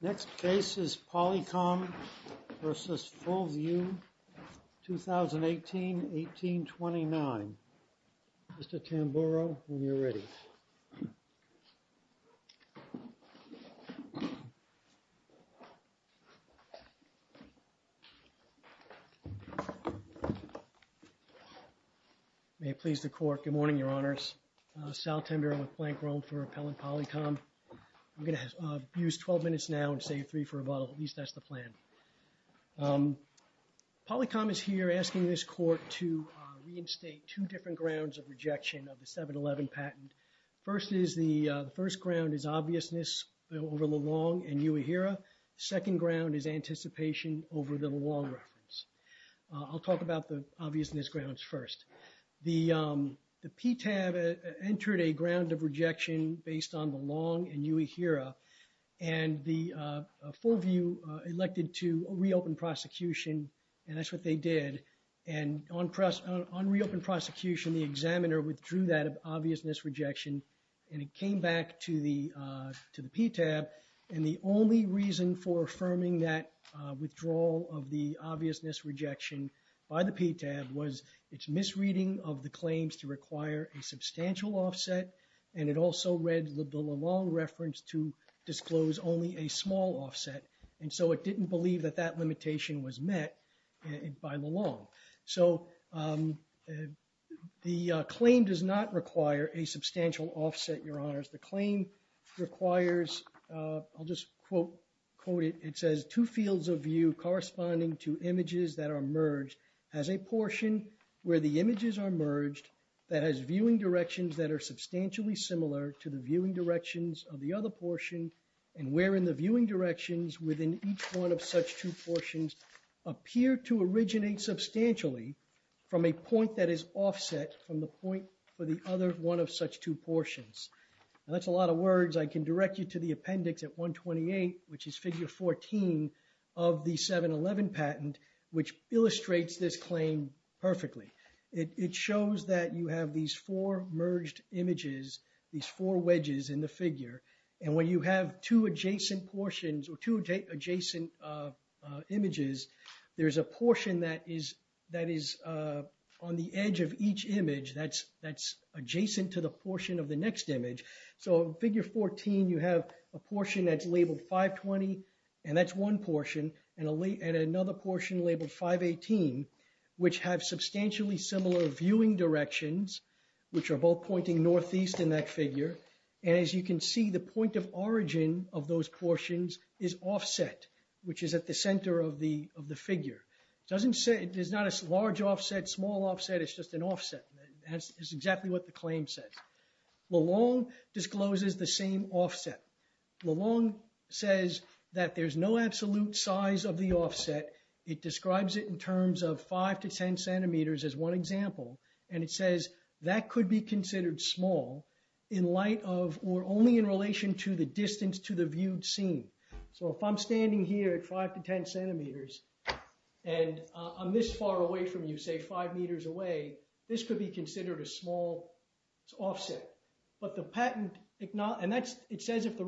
Next case is Polycom v. Fullview, 2018-18-29. Mr. Tamburo, when you're ready. May it please the court. Good morning, Your Honors. Sal Tamburo with Plank Rome for Appellant Polycom. I'm going to use 12 minutes now and save three for a bottle. At least that's the plan. Polycom is here asking this court to reinstate two different grounds of rejection of the 7-11 patent. First is the first ground is obviousness over the Long and Uehara. Second ground is anticipation over the Long reference. I'll talk about the obviousness grounds first. The PTAB entered a ground of rejection based on the Long and Uehara and the Fullview elected to un-reopen prosecution. The examiner withdrew that obviousness rejection and it came back to the PTAB and the only reason for affirming that withdrawal of the obviousness rejection by the PTAB was its misreading of the claims to require a substantial offset and it also read the Long reference to disclose only a small offset and so it didn't believe that that limitation was met by the Long. So the claim does not require a substantial offset, Your Honors. The claim requires, I'll just quote it, it says two fields of view corresponding to images that are merged as a portion where the images are merged that has viewing directions that are substantially similar to the viewing directions of the other portion and wherein the viewing directions within each of such two portions appear to originate substantially from a point that is offset from the point for the other one of such two portions. That's a lot of words. I can direct you to the appendix at 128 which is figure 14 of the 711 patent which illustrates this claim perfectly. It shows that you have these four merged images, these four wedges in the figure and when you have two adjacent portions or two adjacent images there's a portion that is on the edge of each image that's adjacent to the portion of the next image. So figure 14 you have a portion that's labeled 520 and that's one portion and another portion labeled 518 which have substantially similar viewing directions which are both pointing northeast in that figure and as you can see the point of origin of those portions is offset which is at the center of the of the figure. It doesn't say, there's not a large offset, small offset, it's just an offset. That's exactly what the claim says. LeLong discloses the same offset. LeLong says that there's no absolute size of the offset. It describes it in terms of five to ten centimeters as one example and it says that could be considered small in light of or only in relation to the distance to the viewed scene. So if I'm standing here at five to ten centimeters and I'm this far away from you, say five meters away, this could be considered a small offset. But the patent, and that's it says if the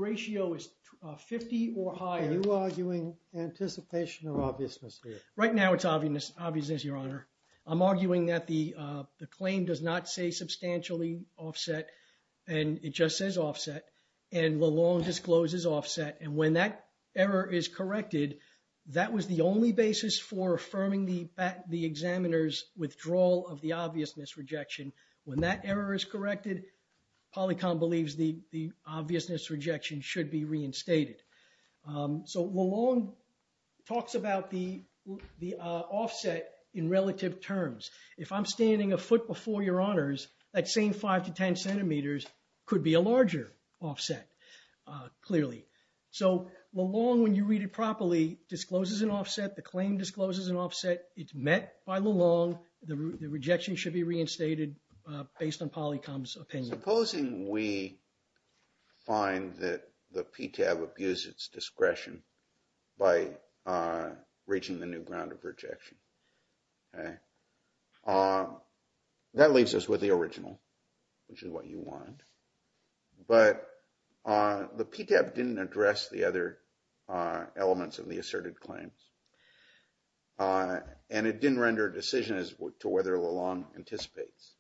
obviousness here. Right now it's obvious obviousness your honor. I'm arguing that the the claim does not say substantially offset and it just says offset and LeLong discloses offset and when that error is corrected, that was the only basis for affirming the examiner's withdrawal of the obviousness rejection. When that error is corrected, Polycom believes the LeLong talks about the offset in relative terms. If I'm standing a foot before your honors, that same five to ten centimeters could be a larger offset clearly. So LeLong, when you read it properly, discloses an offset. The claim discloses an offset. It's met by LeLong. The rejection should be reinstated based on Polycom's opinion. Supposing we find that the PTAB abuses its by reaching the new ground of rejection. Okay, that leaves us with the original, which is what you want. But the PTAB didn't address the other elements of the asserted claims and it didn't render a decision as to whether LeLong anticipates.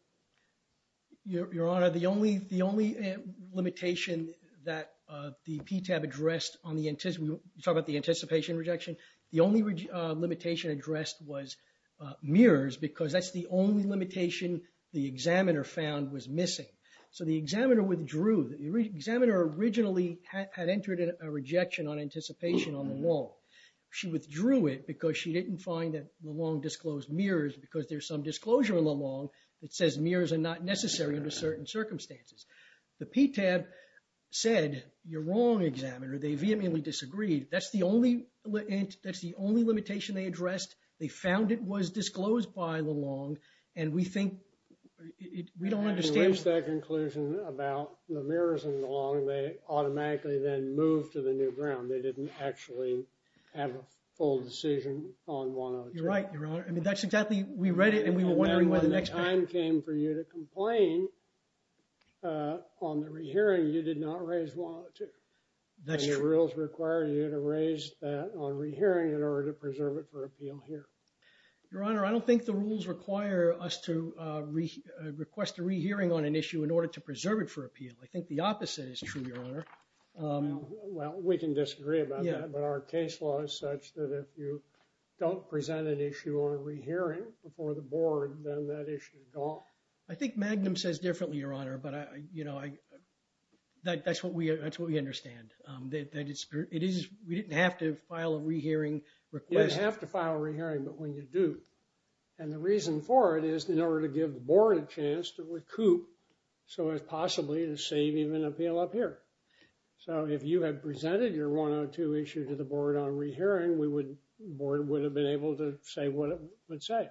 Your honor, the only limitation that the PTAB addressed on the anticipation, you talk about the anticipation rejection, the only limitation addressed was mirrors because that's the only limitation the examiner found was missing. So the examiner withdrew. The examiner originally had entered a rejection on anticipation on LeLong. She withdrew it because she didn't find that LeLong disclosed mirrors because there's some disclosure in LeLong that says mirrors are not necessary under certain circumstances. The PTAB said, you're wrong, examiner. They vehemently disagreed. That's the only, that's the only limitation they addressed. They found it was disclosed by LeLong and we think, we don't understand. They reached that conclusion about the mirrors and LeLong. They automatically then moved to the new ground. They didn't actually have a full decision on one other. You're right, your honor. I mean, that's exactly, we read it and we were wondering why the next. Time came for you to complain on the rehearing. You did not raise one of the two. That's true. And your rules require you to raise that on rehearing in order to preserve it for appeal here. Your honor, I don't think the rules require us to request a rehearing on an issue in order to preserve it for appeal. I think the opposite is true, your honor. Well, we can disagree about that, but our case law is such that if you don't present an issue on rehearing before the board, then that issue is gone. I think Magnum says differently, your honor, but I, you know, I, that's what we, that's what we understand. That it's, it is, we didn't have to file a rehearing request. You have to file a rehearing, but when you do, and the reason for it is in order to give the board a chance to recoup so as possibly to save even appeal up here. So if you had presented your 102 issue to the board on rehearing, we would, the board would have been able to say what it would say.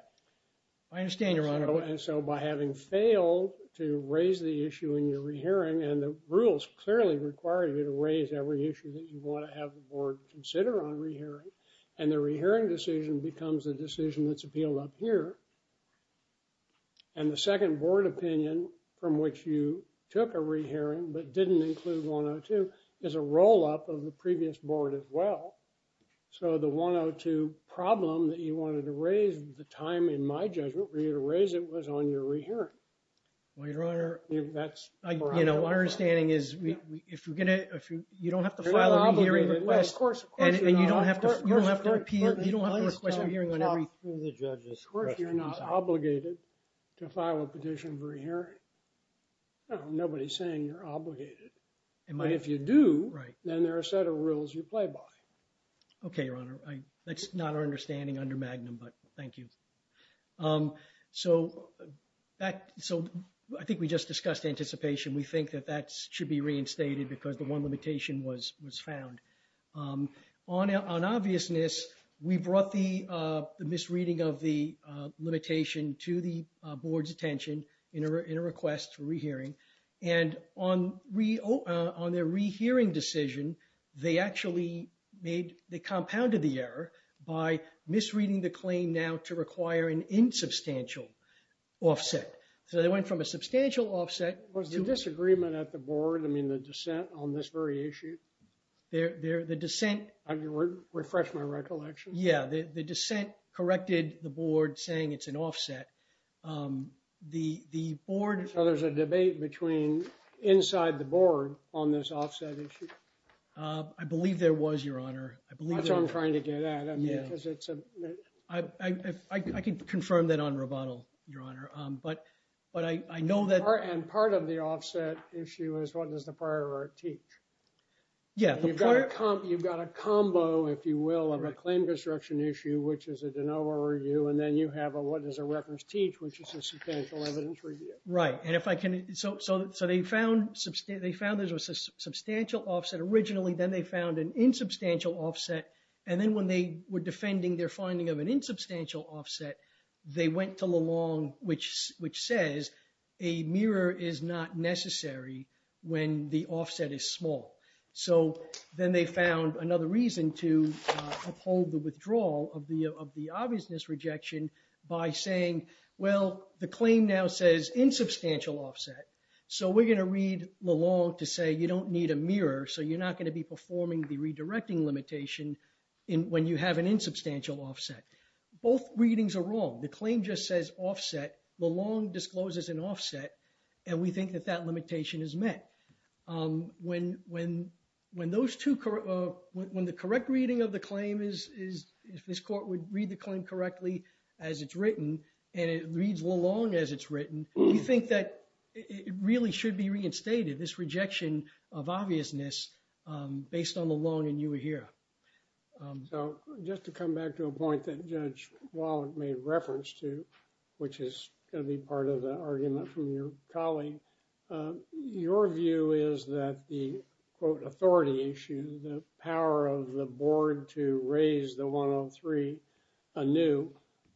I understand, and so by having failed to raise the issue in your rehearing, and the rules clearly require you to raise every issue that you want to have the board consider on rehearing, and the rehearing decision becomes a decision that's appealed up here, and the second board opinion from which you took a rehearing but didn't include 102 is a roll-up of the previous board as well. So the 102 problem that you wanted to raise at the time in my judgment for you to raise it was on your rehearing. Well, your honor, that's, you know, my understanding is if you're going to, if you, you don't have to file a rehearing request, and you don't have to, you don't have to appeal, you don't have to request a hearing on every, of course you're not obligated to file a petition for a hearing. Nobody's saying you're obligated, but if you do, then there are a set rules you play by. Okay, your honor. That's not our understanding under Magnum, but thank you. So that, so I think we just discussed anticipation. We think that that should be reinstated because the one limitation was found. On obviousness, we brought the misreading of the limitation to the made, they compounded the error by misreading the claim now to require an insubstantial offset. So they went from a substantial offset. Was the disagreement at the board, I mean the dissent on this very issue? The dissent. Refresh my recollection. Yeah, the dissent corrected the board saying it's an offset. The board. So there's a debate between inside the board on this offset issue. I believe there was, your honor. I believe. That's what I'm trying to get at. I mean, because it's. I can confirm that on Roboto, your honor, but I know that. And part of the offset issue is what does the prior art teach? Yeah. You've got a combo, if you will, of a claim destruction issue, which is a de novo review, and then you have a what does the records teach, which is a substantial evidence review. Right. And if I can. So they found there was a substantial offset originally, then they found an insubstantial offset. And then when they were defending their finding of an insubstantial offset, they went to Lalonde, which says a mirror is not necessary when the offset is small. So then they found another reason to uphold the withdrawal of the of the obviousness rejection by saying, well, the claim now says insubstantial offset. So we're going to read Lalonde to say you don't need a mirror. So you're not going to be performing the redirecting limitation in when you have an insubstantial offset. Both readings are wrong. The claim just says offset. Lalonde discloses an offset. And we correct reading of the claim is if this court would read the claim correctly as it's written, and it reads Lalonde as it's written, we think that it really should be reinstated, this rejection of obviousness based on the Lalonde and you were here. So just to come back to a point that Judge Wallach made reference to, which is going to be part of the argument from your colleague. Your view is that the, quote, authority issue, the power of the board to raise the 103 anew,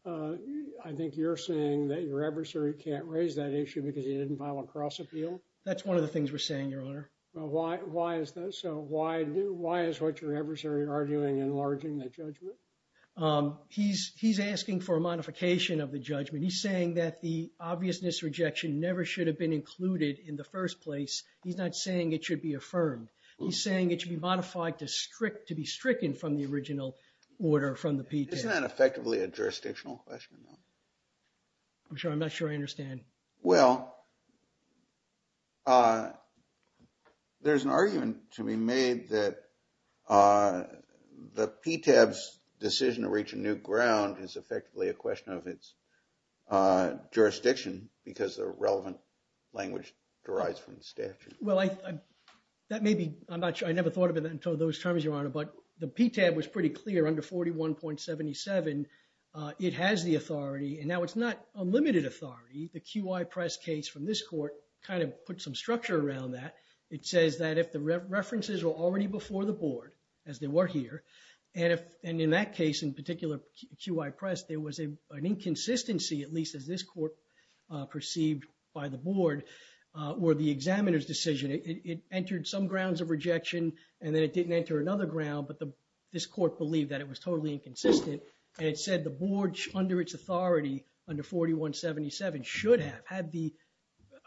I think you're saying that your adversary can't raise that issue because he didn't file a cross appeal. That's one of the things we're saying, Your Honor. Why is that so? Why is what your adversary arguing enlarging the judgment? He's asking for a modification of the judgment. He's saying that the obviousness rejection never should have been included in the first place. He's not saying it should be affirmed. He's saying it should be modified to strict, to be stricken from the original order from the PTAB. Isn't that effectively a jurisdictional question? I'm not sure I understand. Well, there's an argument to be made that the PTAB's decision to reach a new ground is effectively a question of its jurisdiction because the relevant language derives from the statute. Well, that may be, I'm not sure, I never thought of it until those terms, Your Honor, but the PTAB was pretty clear under 41.77. It has the authority and now it's not unlimited authority. The QI press case from this court kind of put some structure around that. It says that if the references are already before the board, as they were here, and in that case, in particular, QI press, there was an inconsistency, at least as this court perceived by the board, where the examiner's decision, it entered some grounds of rejection and then it didn't enter another ground, but this court believed that it was totally inconsistent and it said the board under its authority under 41.77 should have had the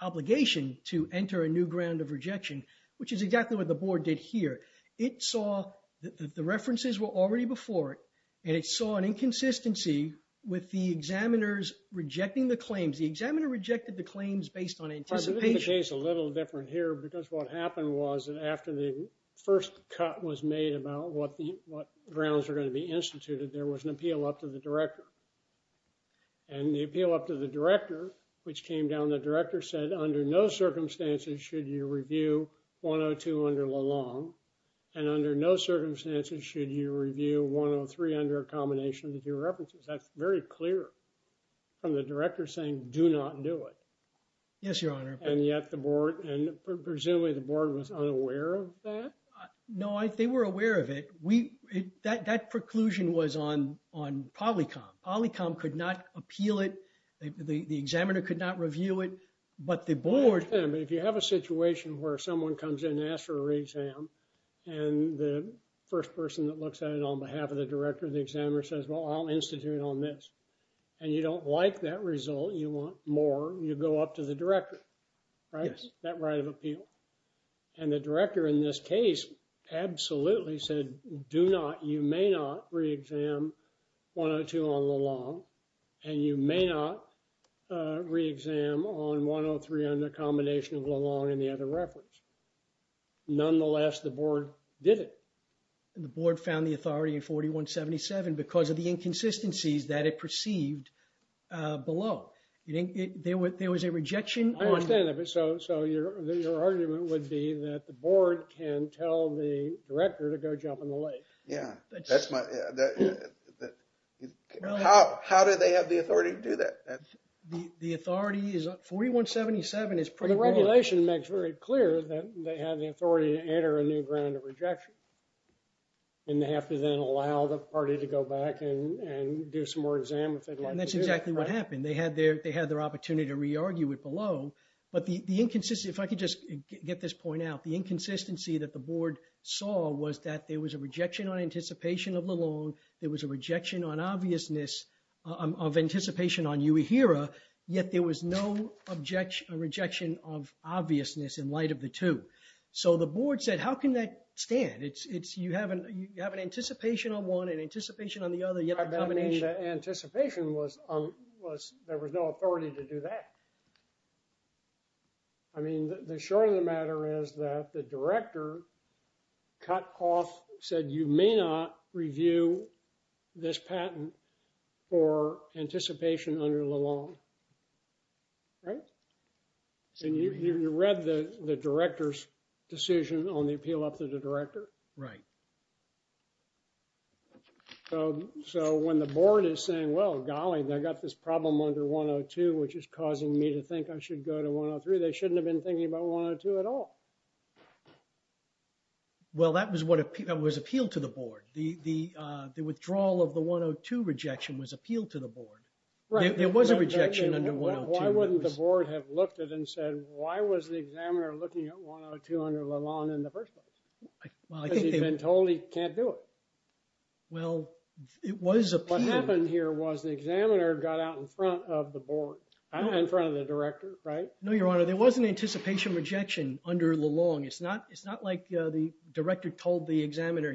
obligation to enter a new ground of rejection, which is exactly what the board did here. It saw that the references were already before it and it saw an inconsistency with the examiners rejecting the claims. The examiner rejected the claims based on anticipation. The case is a little different here because what happened was that after the first cut was made about what grounds are going to be instituted, there was an appeal up to the director. And the appeal up to the director, which came down, the director said under no circumstances should you review 102 under Lalonde and under no circumstances should you review 103 under a combination of the two references. That's very clear from the director saying do not do it. Yes, your honor. And yet the board, and presumably the board was unaware of that? No, they were aware of it. That preclusion was on Polycom. Polycom could not appeal it. The examiner could not review it, but the board... Yeah, but if you have a situation where someone comes in and asks for a re-exam and the first person that looks at it on behalf of the director of the examiner says, well, I'll institute on this and you don't like that result, you want more, you go up to the director, right? That right of appeal. And the director in this case absolutely said do not, you may not re-exam 102 on Lalonde and you may not re-exam on 103 under a combination of Lalonde and the other reference. Nonetheless, the board did it. The board found the authority in 4177 because of the inconsistencies that it perceived below. There was a rejection on... I understand that, but so your argument would be that the board can tell the director to go up in the lake. Yeah, that's my... How do they have the authority to do that? The authority is 4177 is pretty... The regulation makes very clear that they have the authority to enter a new ground of rejection and they have to then allow the party to go back and do some more exam if they'd like. That's exactly what happened. They had their opportunity to re-argue it below, but the inconsistency, if I could just get this point out, the inconsistency that the board saw was that there was a rejection on anticipation of Lalonde, there was a rejection on obviousness of anticipation on Uehira, yet there was no objection or rejection of obviousness in light of the two. So the board said how can that stand? You have an anticipation on one, an anticipation on the other, yet a combination. I mean the anticipation was there was no authority to do that. I mean the short of the matter is that the director cut off, said you may not review this patent for anticipation under Lalonde. Right? And you read the director's decision on the appeal up to the director. Right. So when the board is saying, well golly, I got this problem under 102, which is causing me to think I should go to 103, they shouldn't have been thinking about 102 at all. Well, that was appealed to the board. The withdrawal of the 102 rejection was appealed to the board. Right. There was a rejection under 102. Why wouldn't the board have looked at it and said, why was the examiner looking at 102 under Lalonde in the first place? Because he'd been told he can't do it. Well, it was appealed. What happened here was the examiner got out in front of the board, in front of the director. Right? No, your honor, there was an anticipation rejection under Lalonde. It's not like the director told the examiner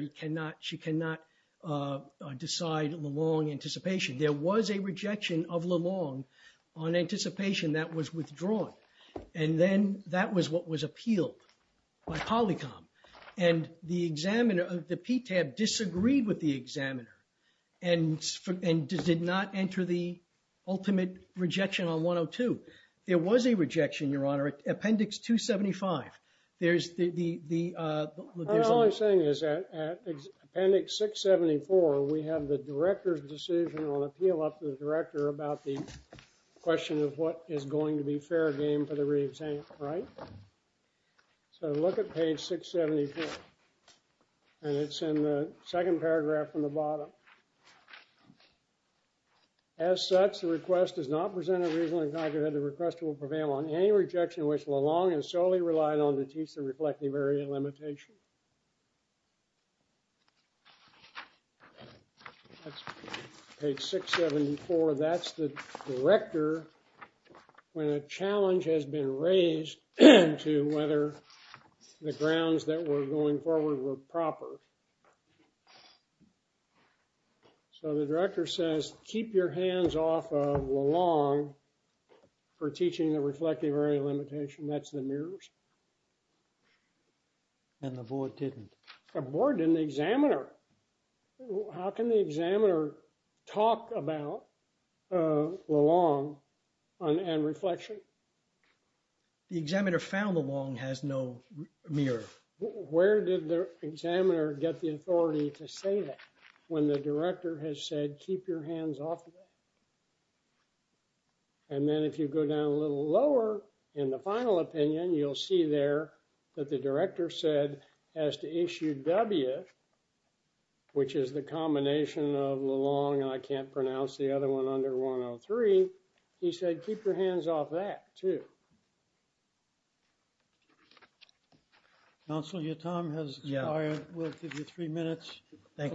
she cannot decide Lalonde anticipation. There was a rejection of Lalonde on anticipation that was withdrawn. And then that was appealed by Polycom. And the examiner, the PTAB disagreed with the examiner and did not enter the ultimate rejection on 102. There was a rejection, your honor, Appendix 275. All I'm saying is that Appendix 674, we have the director's decision on appeal up to the director about the question of what is going to be fair game for the re-exam, right? So look at page 674. And it's in the second paragraph from the bottom. As such, the request does not present a reasonable and cognitive request to prevail on any rejection which Lalonde has solely relied on to teach the reflective area limitation. Page 674, that's the director when a challenge has been raised to whether the grounds that were going forward were proper. So the director says, keep your hands off of Lalonde for teaching the reflective area limitation. That's the mirrors. And the board didn't? The board didn't, the examiner. How can the examiner talk about Lalonde and reflection? The examiner found Lalonde has no mirror. Where did the examiner get the authority to say that when the director has said, keep your hands off of her? And then if you go down a little lower in the final opinion, you'll see there that the director said as to issue W, which is the combination of Lalonde, and I can't pronounce the other one under 103. He said, keep your hands off that too. Council, your time has expired. We'll give you three minutes at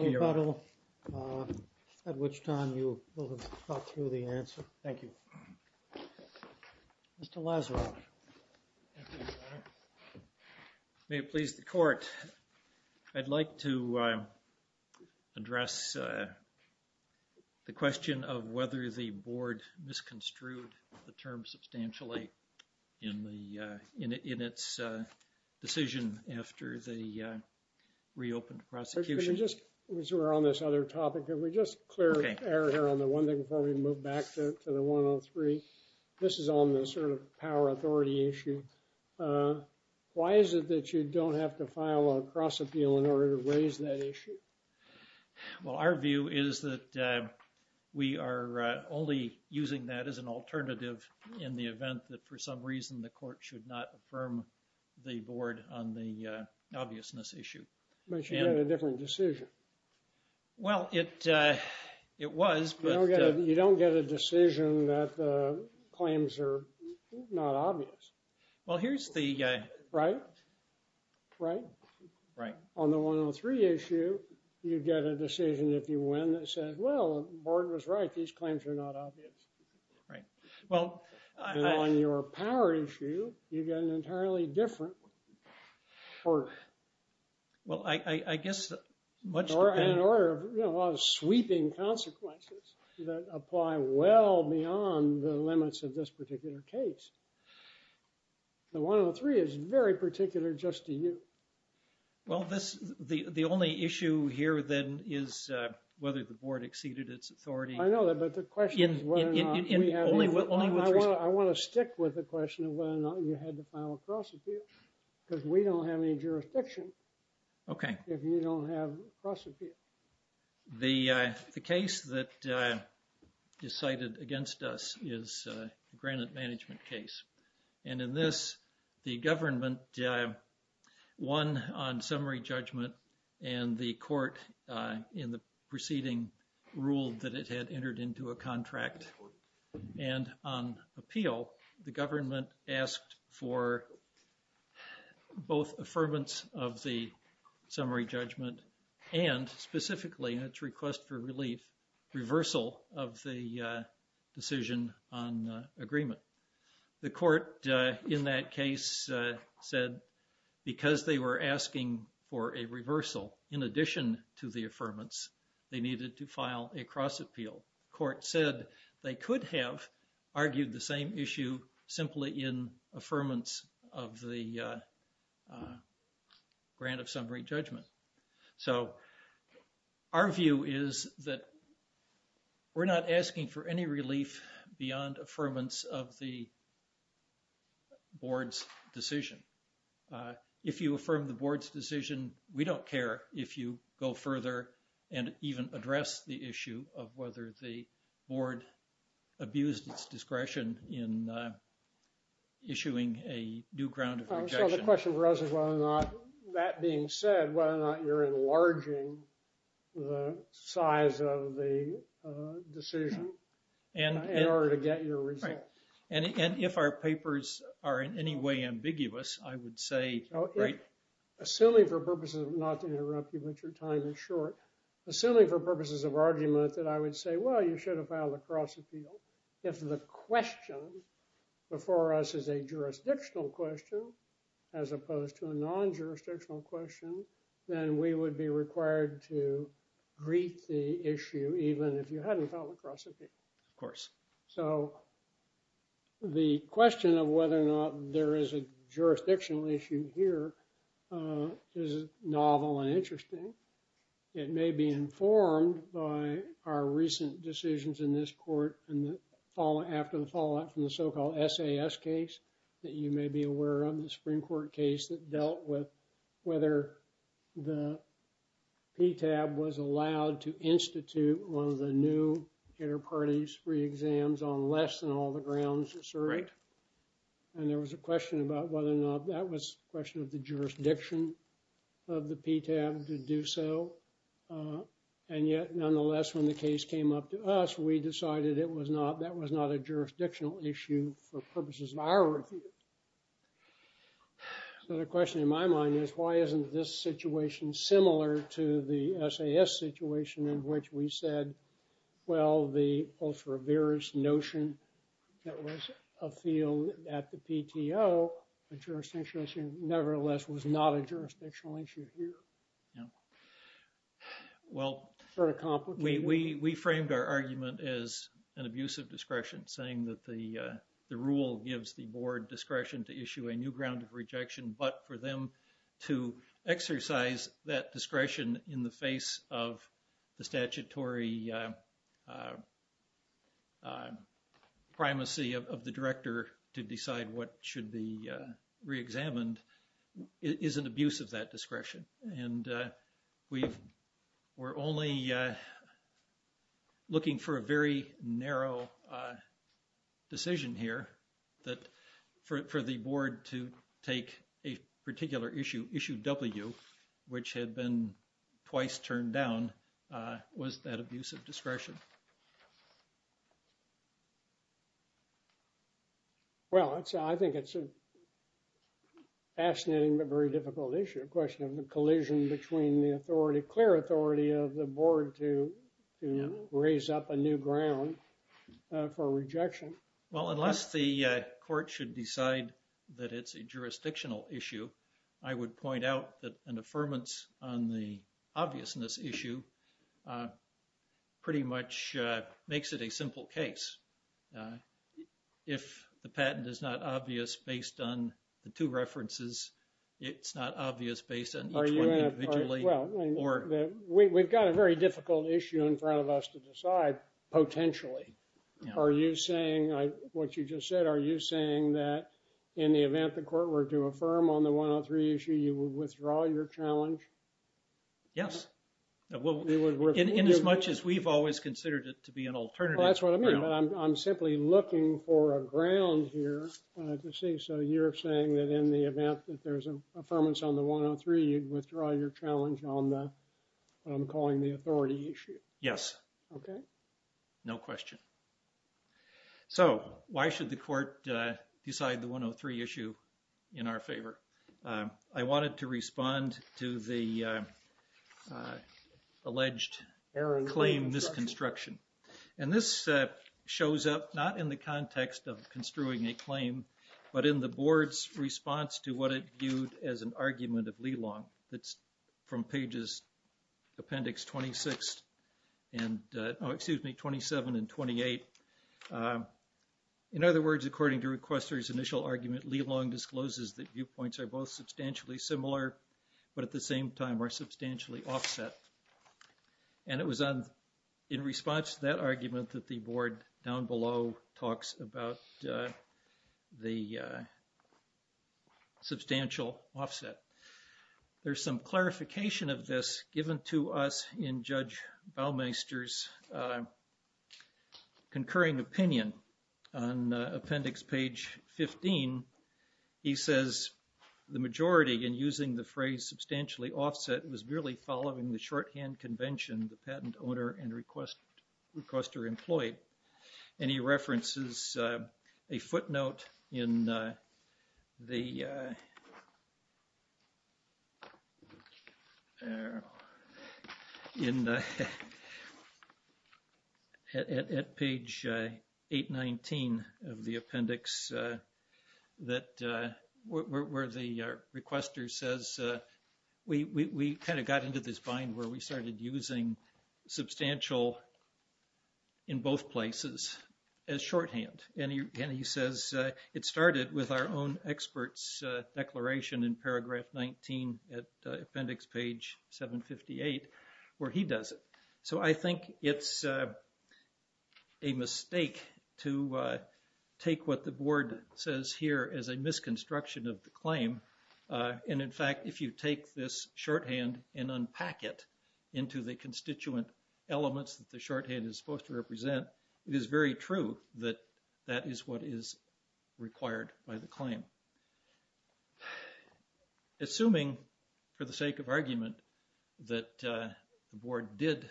which time you will have thought through the answer. Thank you. Mr. Lazaroff. May it please the court. I'd like to address the question of whether the board misconstrued the term substantially in the, in its decision after the reopened prosecution. Just as we're on this other topic, can we just clear air here on the one thing before we move back to the 103. This is on the sort of power authority issue. Why is it that you don't have to file a cross appeal in order to raise that issue? Well, our view is that we are only using that as an alternative in the event that for some reason, the court should not affirm the board on the obviousness issue. But you had a different decision. Well, it was. You don't get a decision that the claims are not obvious. Well, here's the... Right? Right? Right. On the 103 issue, you get a decision if you win that says, well, the board was right. These claims are not obvious. Right. Well, on your power issue, you've got an entirely different work. Well, I, I, I guess, much in order, you know, a lot of sweeping consequences that apply well beyond the limits of this particular case. The 103 is very particular just to you. Well, this, the, the only issue here then is whether the board exceeded its authority. I know I want to stick with the question of whether or not you had to file a cross appeal because we don't have any jurisdiction. Okay. If you don't have a cross appeal. The, the case that is cited against us is a granite management case. And in this, the government won on summary judgment and the court in the proceeding ruled that it had entered into a contract. And on appeal, the government asked for both affirmance of the summary judgment and specifically in its request for relief, reversal of the decision on agreement. The court in that case said because they were asking for a reversal in addition to the affirmance, they needed to file a cross appeal court said they could have argued the same issue simply in affirmance of the grant of summary judgment. So our view is that we're not asking for any relief beyond affirmance of the board's decision. If you affirm the board's decision, we don't care if you go further and even address the issue of whether the board abused its discretion in issuing a new ground of rejection. So the question for us is whether or not, that being said, whether or not you're enlarging the size of the decision in order to get your And if our papers are in any way ambiguous, I would say, assuming for purposes of not to interrupt you, but your time is short, assuming for purposes of argument that I would say, well, you should have filed a cross appeal. If the question before us is a jurisdictional question, as opposed to a non-jurisdictional question, then we would be required to greet the issue, even if you hadn't filed a cross appeal. Of course. So the question of whether or not there is a jurisdictional issue here is novel and interesting. It may be informed by our recent decisions in this court in the fall after the fallout from the so-called SAS case that you the new inter-parties free exams on less than all the grounds are served. And there was a question about whether or not that was a question of the jurisdiction of the PTAB to do so. And yet, nonetheless, when the case came up to us, we decided it was not, that was not a jurisdictional issue for purposes of our review. So the question in my mind is, why isn't this situation similar to the SAS situation in which we said, well, the ultra-various notion that was a field at the PTO, a jurisdictional issue, nevertheless, was not a jurisdictional issue here. Yeah. Well, we framed our argument as an abuse of discretion, saying that the rule gives the board discretion to issue a new but for them to exercise that discretion in the face of the statutory primacy of the director to decide what should be re-examined is an abuse of that discretion. And we were only looking for a very narrow decision here that for the board to take a particular issue, issue W, which had been twice turned down, was that abuse of discretion. Well, it's, I think it's a fascinating but very difficult issue, a question of the collision between the authority, clear authority, of the board to raise up a new ground for rejection. Well, unless the court should decide that it's a jurisdictional issue, I would point out that an affirmance on the obviousness issue pretty much does not mean that the board makes it a simple case. If the patent is not obvious based on the two references, it's not obvious based on each one individually. Well, we've got a very difficult issue in front of us to decide, potentially. Are you saying, what you just said, are you saying that in the event the court were to affirm on the 103 issue, you would withdraw your challenge? Yes. In as much as we've always considered it to be an alternative. Well, that's what I mean, but I'm simply looking for a ground here to say, so you're saying that in the event that there's an affirmance on the 103, you'd withdraw your challenge on the, what I'm calling the authority issue. Yes. Okay. No question. Okay. So, why should the court decide the 103 issue in our favor? I wanted to respond to the alleged claim misconstruction. And this shows up not in the context of construing a claim, but in the board's response to what it viewed as an argument of Leelong that's from pages appendix 26 and, oh, excuse me, 27 and 28. In other words, according to requester's initial argument, Leelong discloses that viewpoints are both substantially similar, but at the same time are substantially offset. And it was in response to that argument that the board down below talks about the substantial offset. There's some clarification of this given to us in Judge Baumeister's concurring opinion. On appendix page 15, he says the majority in using the phrase substantially offset was really following the shorthand convention the patent owner and requester employed. And he references a footnote in the, at page 819 of the appendix where the requester says we kind of got into this bind where we started using substantial in both places as shorthand. And he says it started with our own expert's declaration in paragraph 19 at appendix page 758 where he does it. So, I think it's a mistake to take what the board says here as a misconstruction of the claim. And in fact, if you take this shorthand and unpack it into the constituent elements that the shorthand is supposed to represent, it is very true that that is what is required by the claim. Assuming for the sake of argument that the board did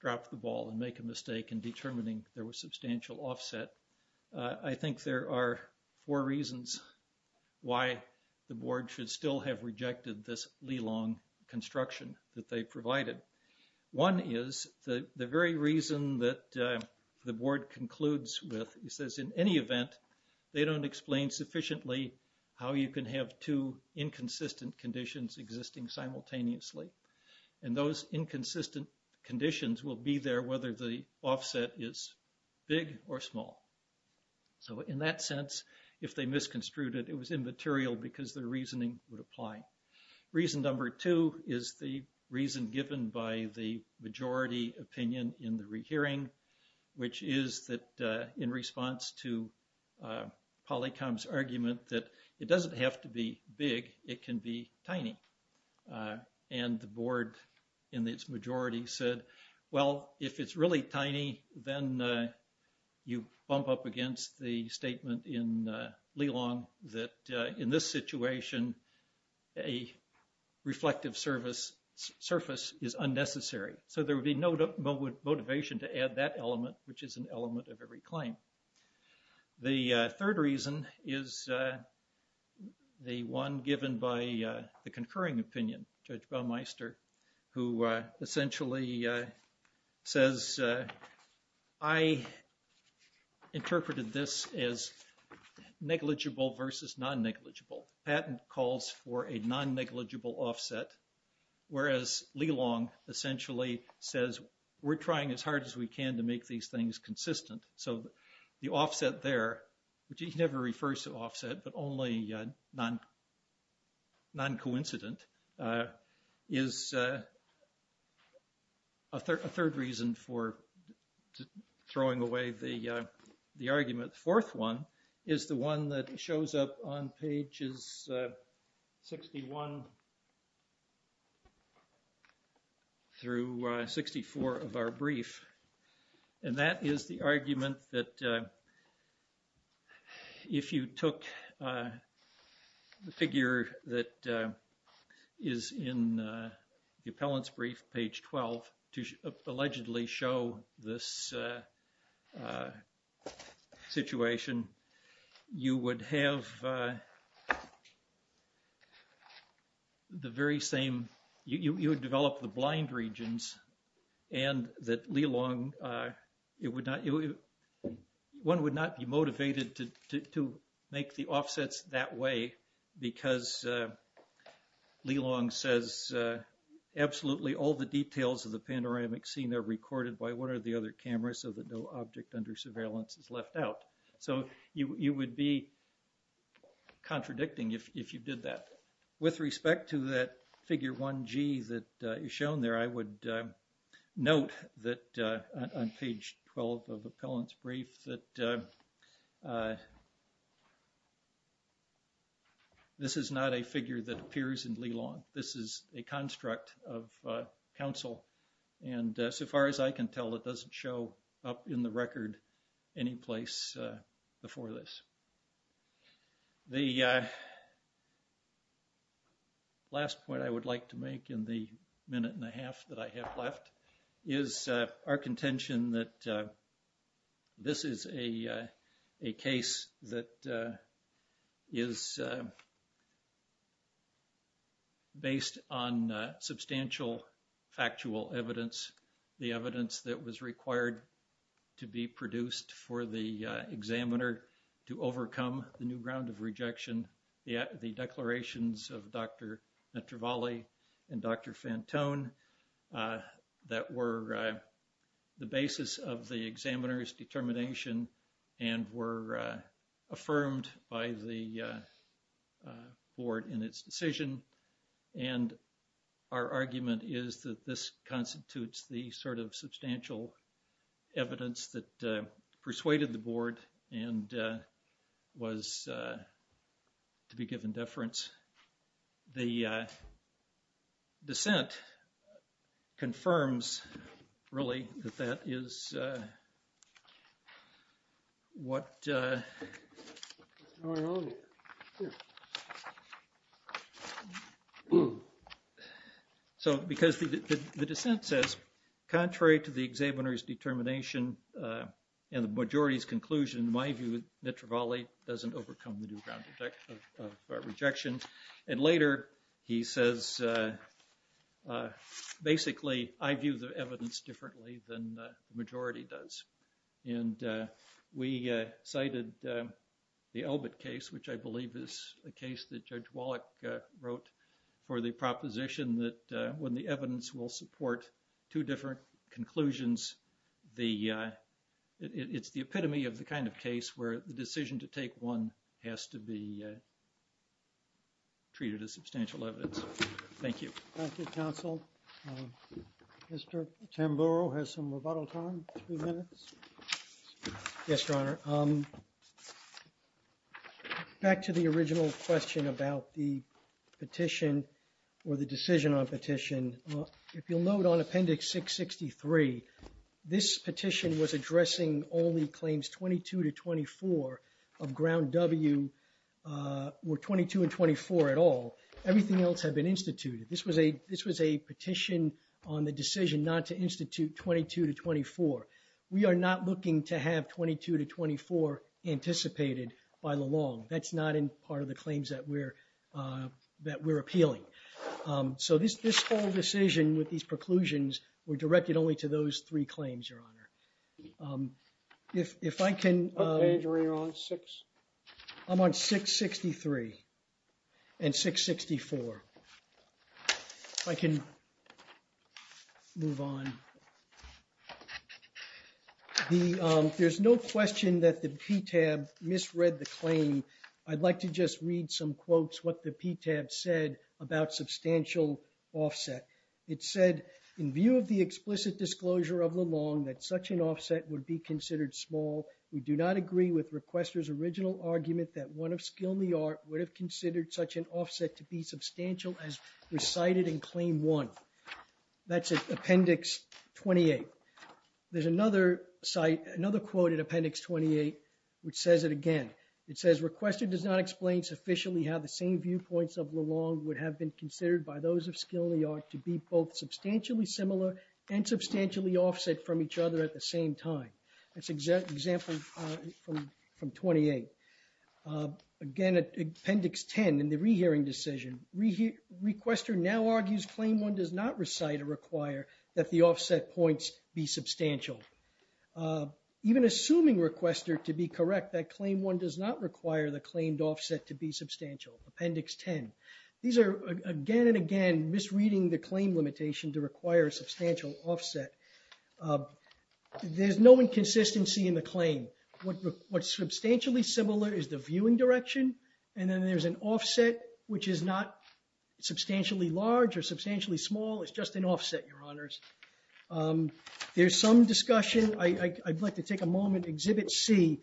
drop the ball and make a mistake in determining there was substantial offset, I think there are four reasons why the board should still have rejected this Lelong construction that they provided. One is the very reason that the board concludes with, he says in any event, they don't explain sufficiently how you can have two inconsistent conditions existing simultaneously. And those inconsistent conditions will be there whether the offset is big or small. So, in that if they misconstrued it, it was immaterial because their reasoning would apply. Reason number two is the reason given by the majority opinion in the rehearing, which is that in response to Polycom's argument that it doesn't have to be big, it can be tiny. And the board in its majority said, well, if it's really tiny, then you bump up against the statement in Lelong that in this situation, a reflective surface is unnecessary. So, there would be no motivation to add that element, which is an element of every claim. The third reason is the one given by the concurring opinion, Judge Baumeister, who essentially says, I interpreted this as negligible versus non-negligible. Patent calls for a non-negligible offset, whereas Lelong essentially says, we're trying as hard as we can to make these things but only non-coincident, is a third reason for throwing away the argument. Fourth one is the one that shows up on pages 61 through 64 of our brief. And that is the argument that if you took the figure that is in the appellant's brief, page 12, to allegedly show this situation, you would have the very same, you would develop the blind regions and that Lelong, it would not, one would not be motivated to make the offsets that way because Lelong says, absolutely, all the details of the panoramic scene are recorded by one or the other camera so that no object under surveillance is left out. So, you would be contradicting if you did that. With respect to that figure 1G that is shown there, I would note that on page 12 of appellant's brief that this is not a figure that appears in Lelong. This is a construct of counsel and so far as I can tell it doesn't show up in the record any place before this. The last point I would like to make in the minute and a half that I have left is our contention that this is a case that is based on substantial factual evidence. The evidence that was required to be produced for the examiner to overcome the new ground of rejection, the declarations of Dr. Netravalli and Dr. Fantone that were the basis of the examiner's determination and were affirmed by the board in its decision and our argument is that this constitutes the sort of substantial evidence that persuaded the board and was to be given deference. The dissent confirms really that that is what so because the dissent says contrary to the examiner's determination and the majority's conclusion, in my view, Netravalli doesn't overcome the new ground of rejection and later he says basically I view the evidence differently than the majority does and we cited the Elbit case which I believe is a case that Judge Wallach wrote for the proposition that when the evidence will support two different conclusions, it's the epitome of the kind of case where the decision to take one has to be treated as substantial evidence. Thank you. Thank you, counsel. Mr. Tamburo has some rebuttal time, three minutes. Yes, your honor. Back to the original question about the petition or the decision on petition. If you'll note on appendix 663, this petition was addressing only claims 22 to 24 of ground W or 22 and 24 at all. Everything else had been instituted. This was a petition on the decision not to institute 22 to 24. We are not looking to have 22 to 24 anticipated by the law. That's not in part of the claims that we're appealing. So this whole decision with these preclusions were directed only to those three claims, your honor. If I can... What page are you on, six? I'm on 663 and 664. If I can move on. There's no question that the PTAB misread the claim. I'd like to just read some quotes what the PTAB said about substantial offset. It said, in view of the explicit disclosure of the long that such an offset would be considered small, we do not agree with requester's original argument that one of skill in the art would have considered such an offset to be substantial as recited in claim one. That's appendix 28. There's another quote in appendix 28 which says it again. It says, requester does not explain sufficiently how the same viewpoints of the long would have been considered by those of skill in the art to be both substantially similar and substantially offset from each other at the same time. That's example from 28. Again, appendix 10 in the claim one does not recite or require that the offset points be substantial. Even assuming requester to be correct that claim one does not require the claimed offset to be substantial. Appendix 10. These are again and again misreading the claim limitation to require a substantial offset. There's no inconsistency in the claim. What's substantially similar is the viewing direction and then there's an offset which is not substantially large or substantially small. It's just an offset, your honors. There's some discussion. I'd like to take a moment, exhibit C,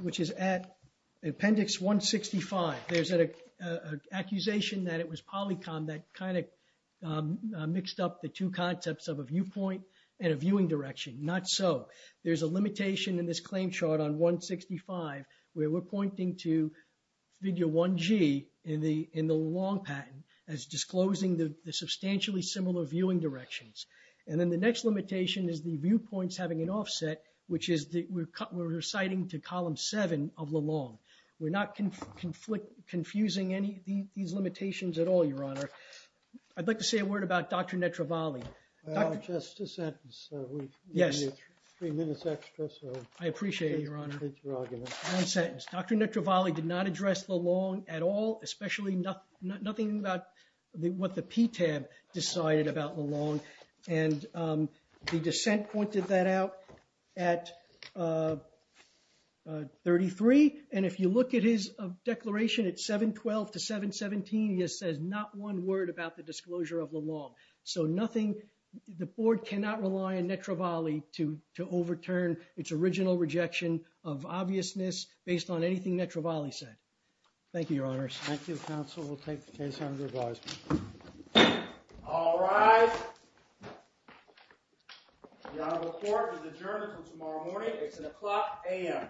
which is at appendix 165. There's an accusation that it was polycom that kind of mixed up the two concepts of a viewpoint and a viewing direction. Not so. There's a limitation in this claim chart on 165 where we're pointing to figure 1G in the long patent as disclosing the substantially similar viewing directions. And then the next limitation is the viewpoints having an offset, which is that we're reciting to column seven of the long. We're not confusing any of these limitations at all, your honor. I'd like to say a word about Dr. Netravalli. Just a sentence. Yes. Three minutes extra. I appreciate it, your honor. One sentence. Dr. Netravalli did not address the long at all, especially nothing about what the PTAB decided about the long. And the dissent pointed that out at 33. And if you look at his declaration at 712 to 717, he has said not one word about the disclosure of the long. So nothing, the board cannot rely on Netravalli to overturn its original rejection of obviousness based on anything Netravalli said. Thank you, your honors. Thank you, counsel. We'll take the case under advisement. All rise. The honorable court is adjourned until tomorrow morning. It's an o'clock a.m.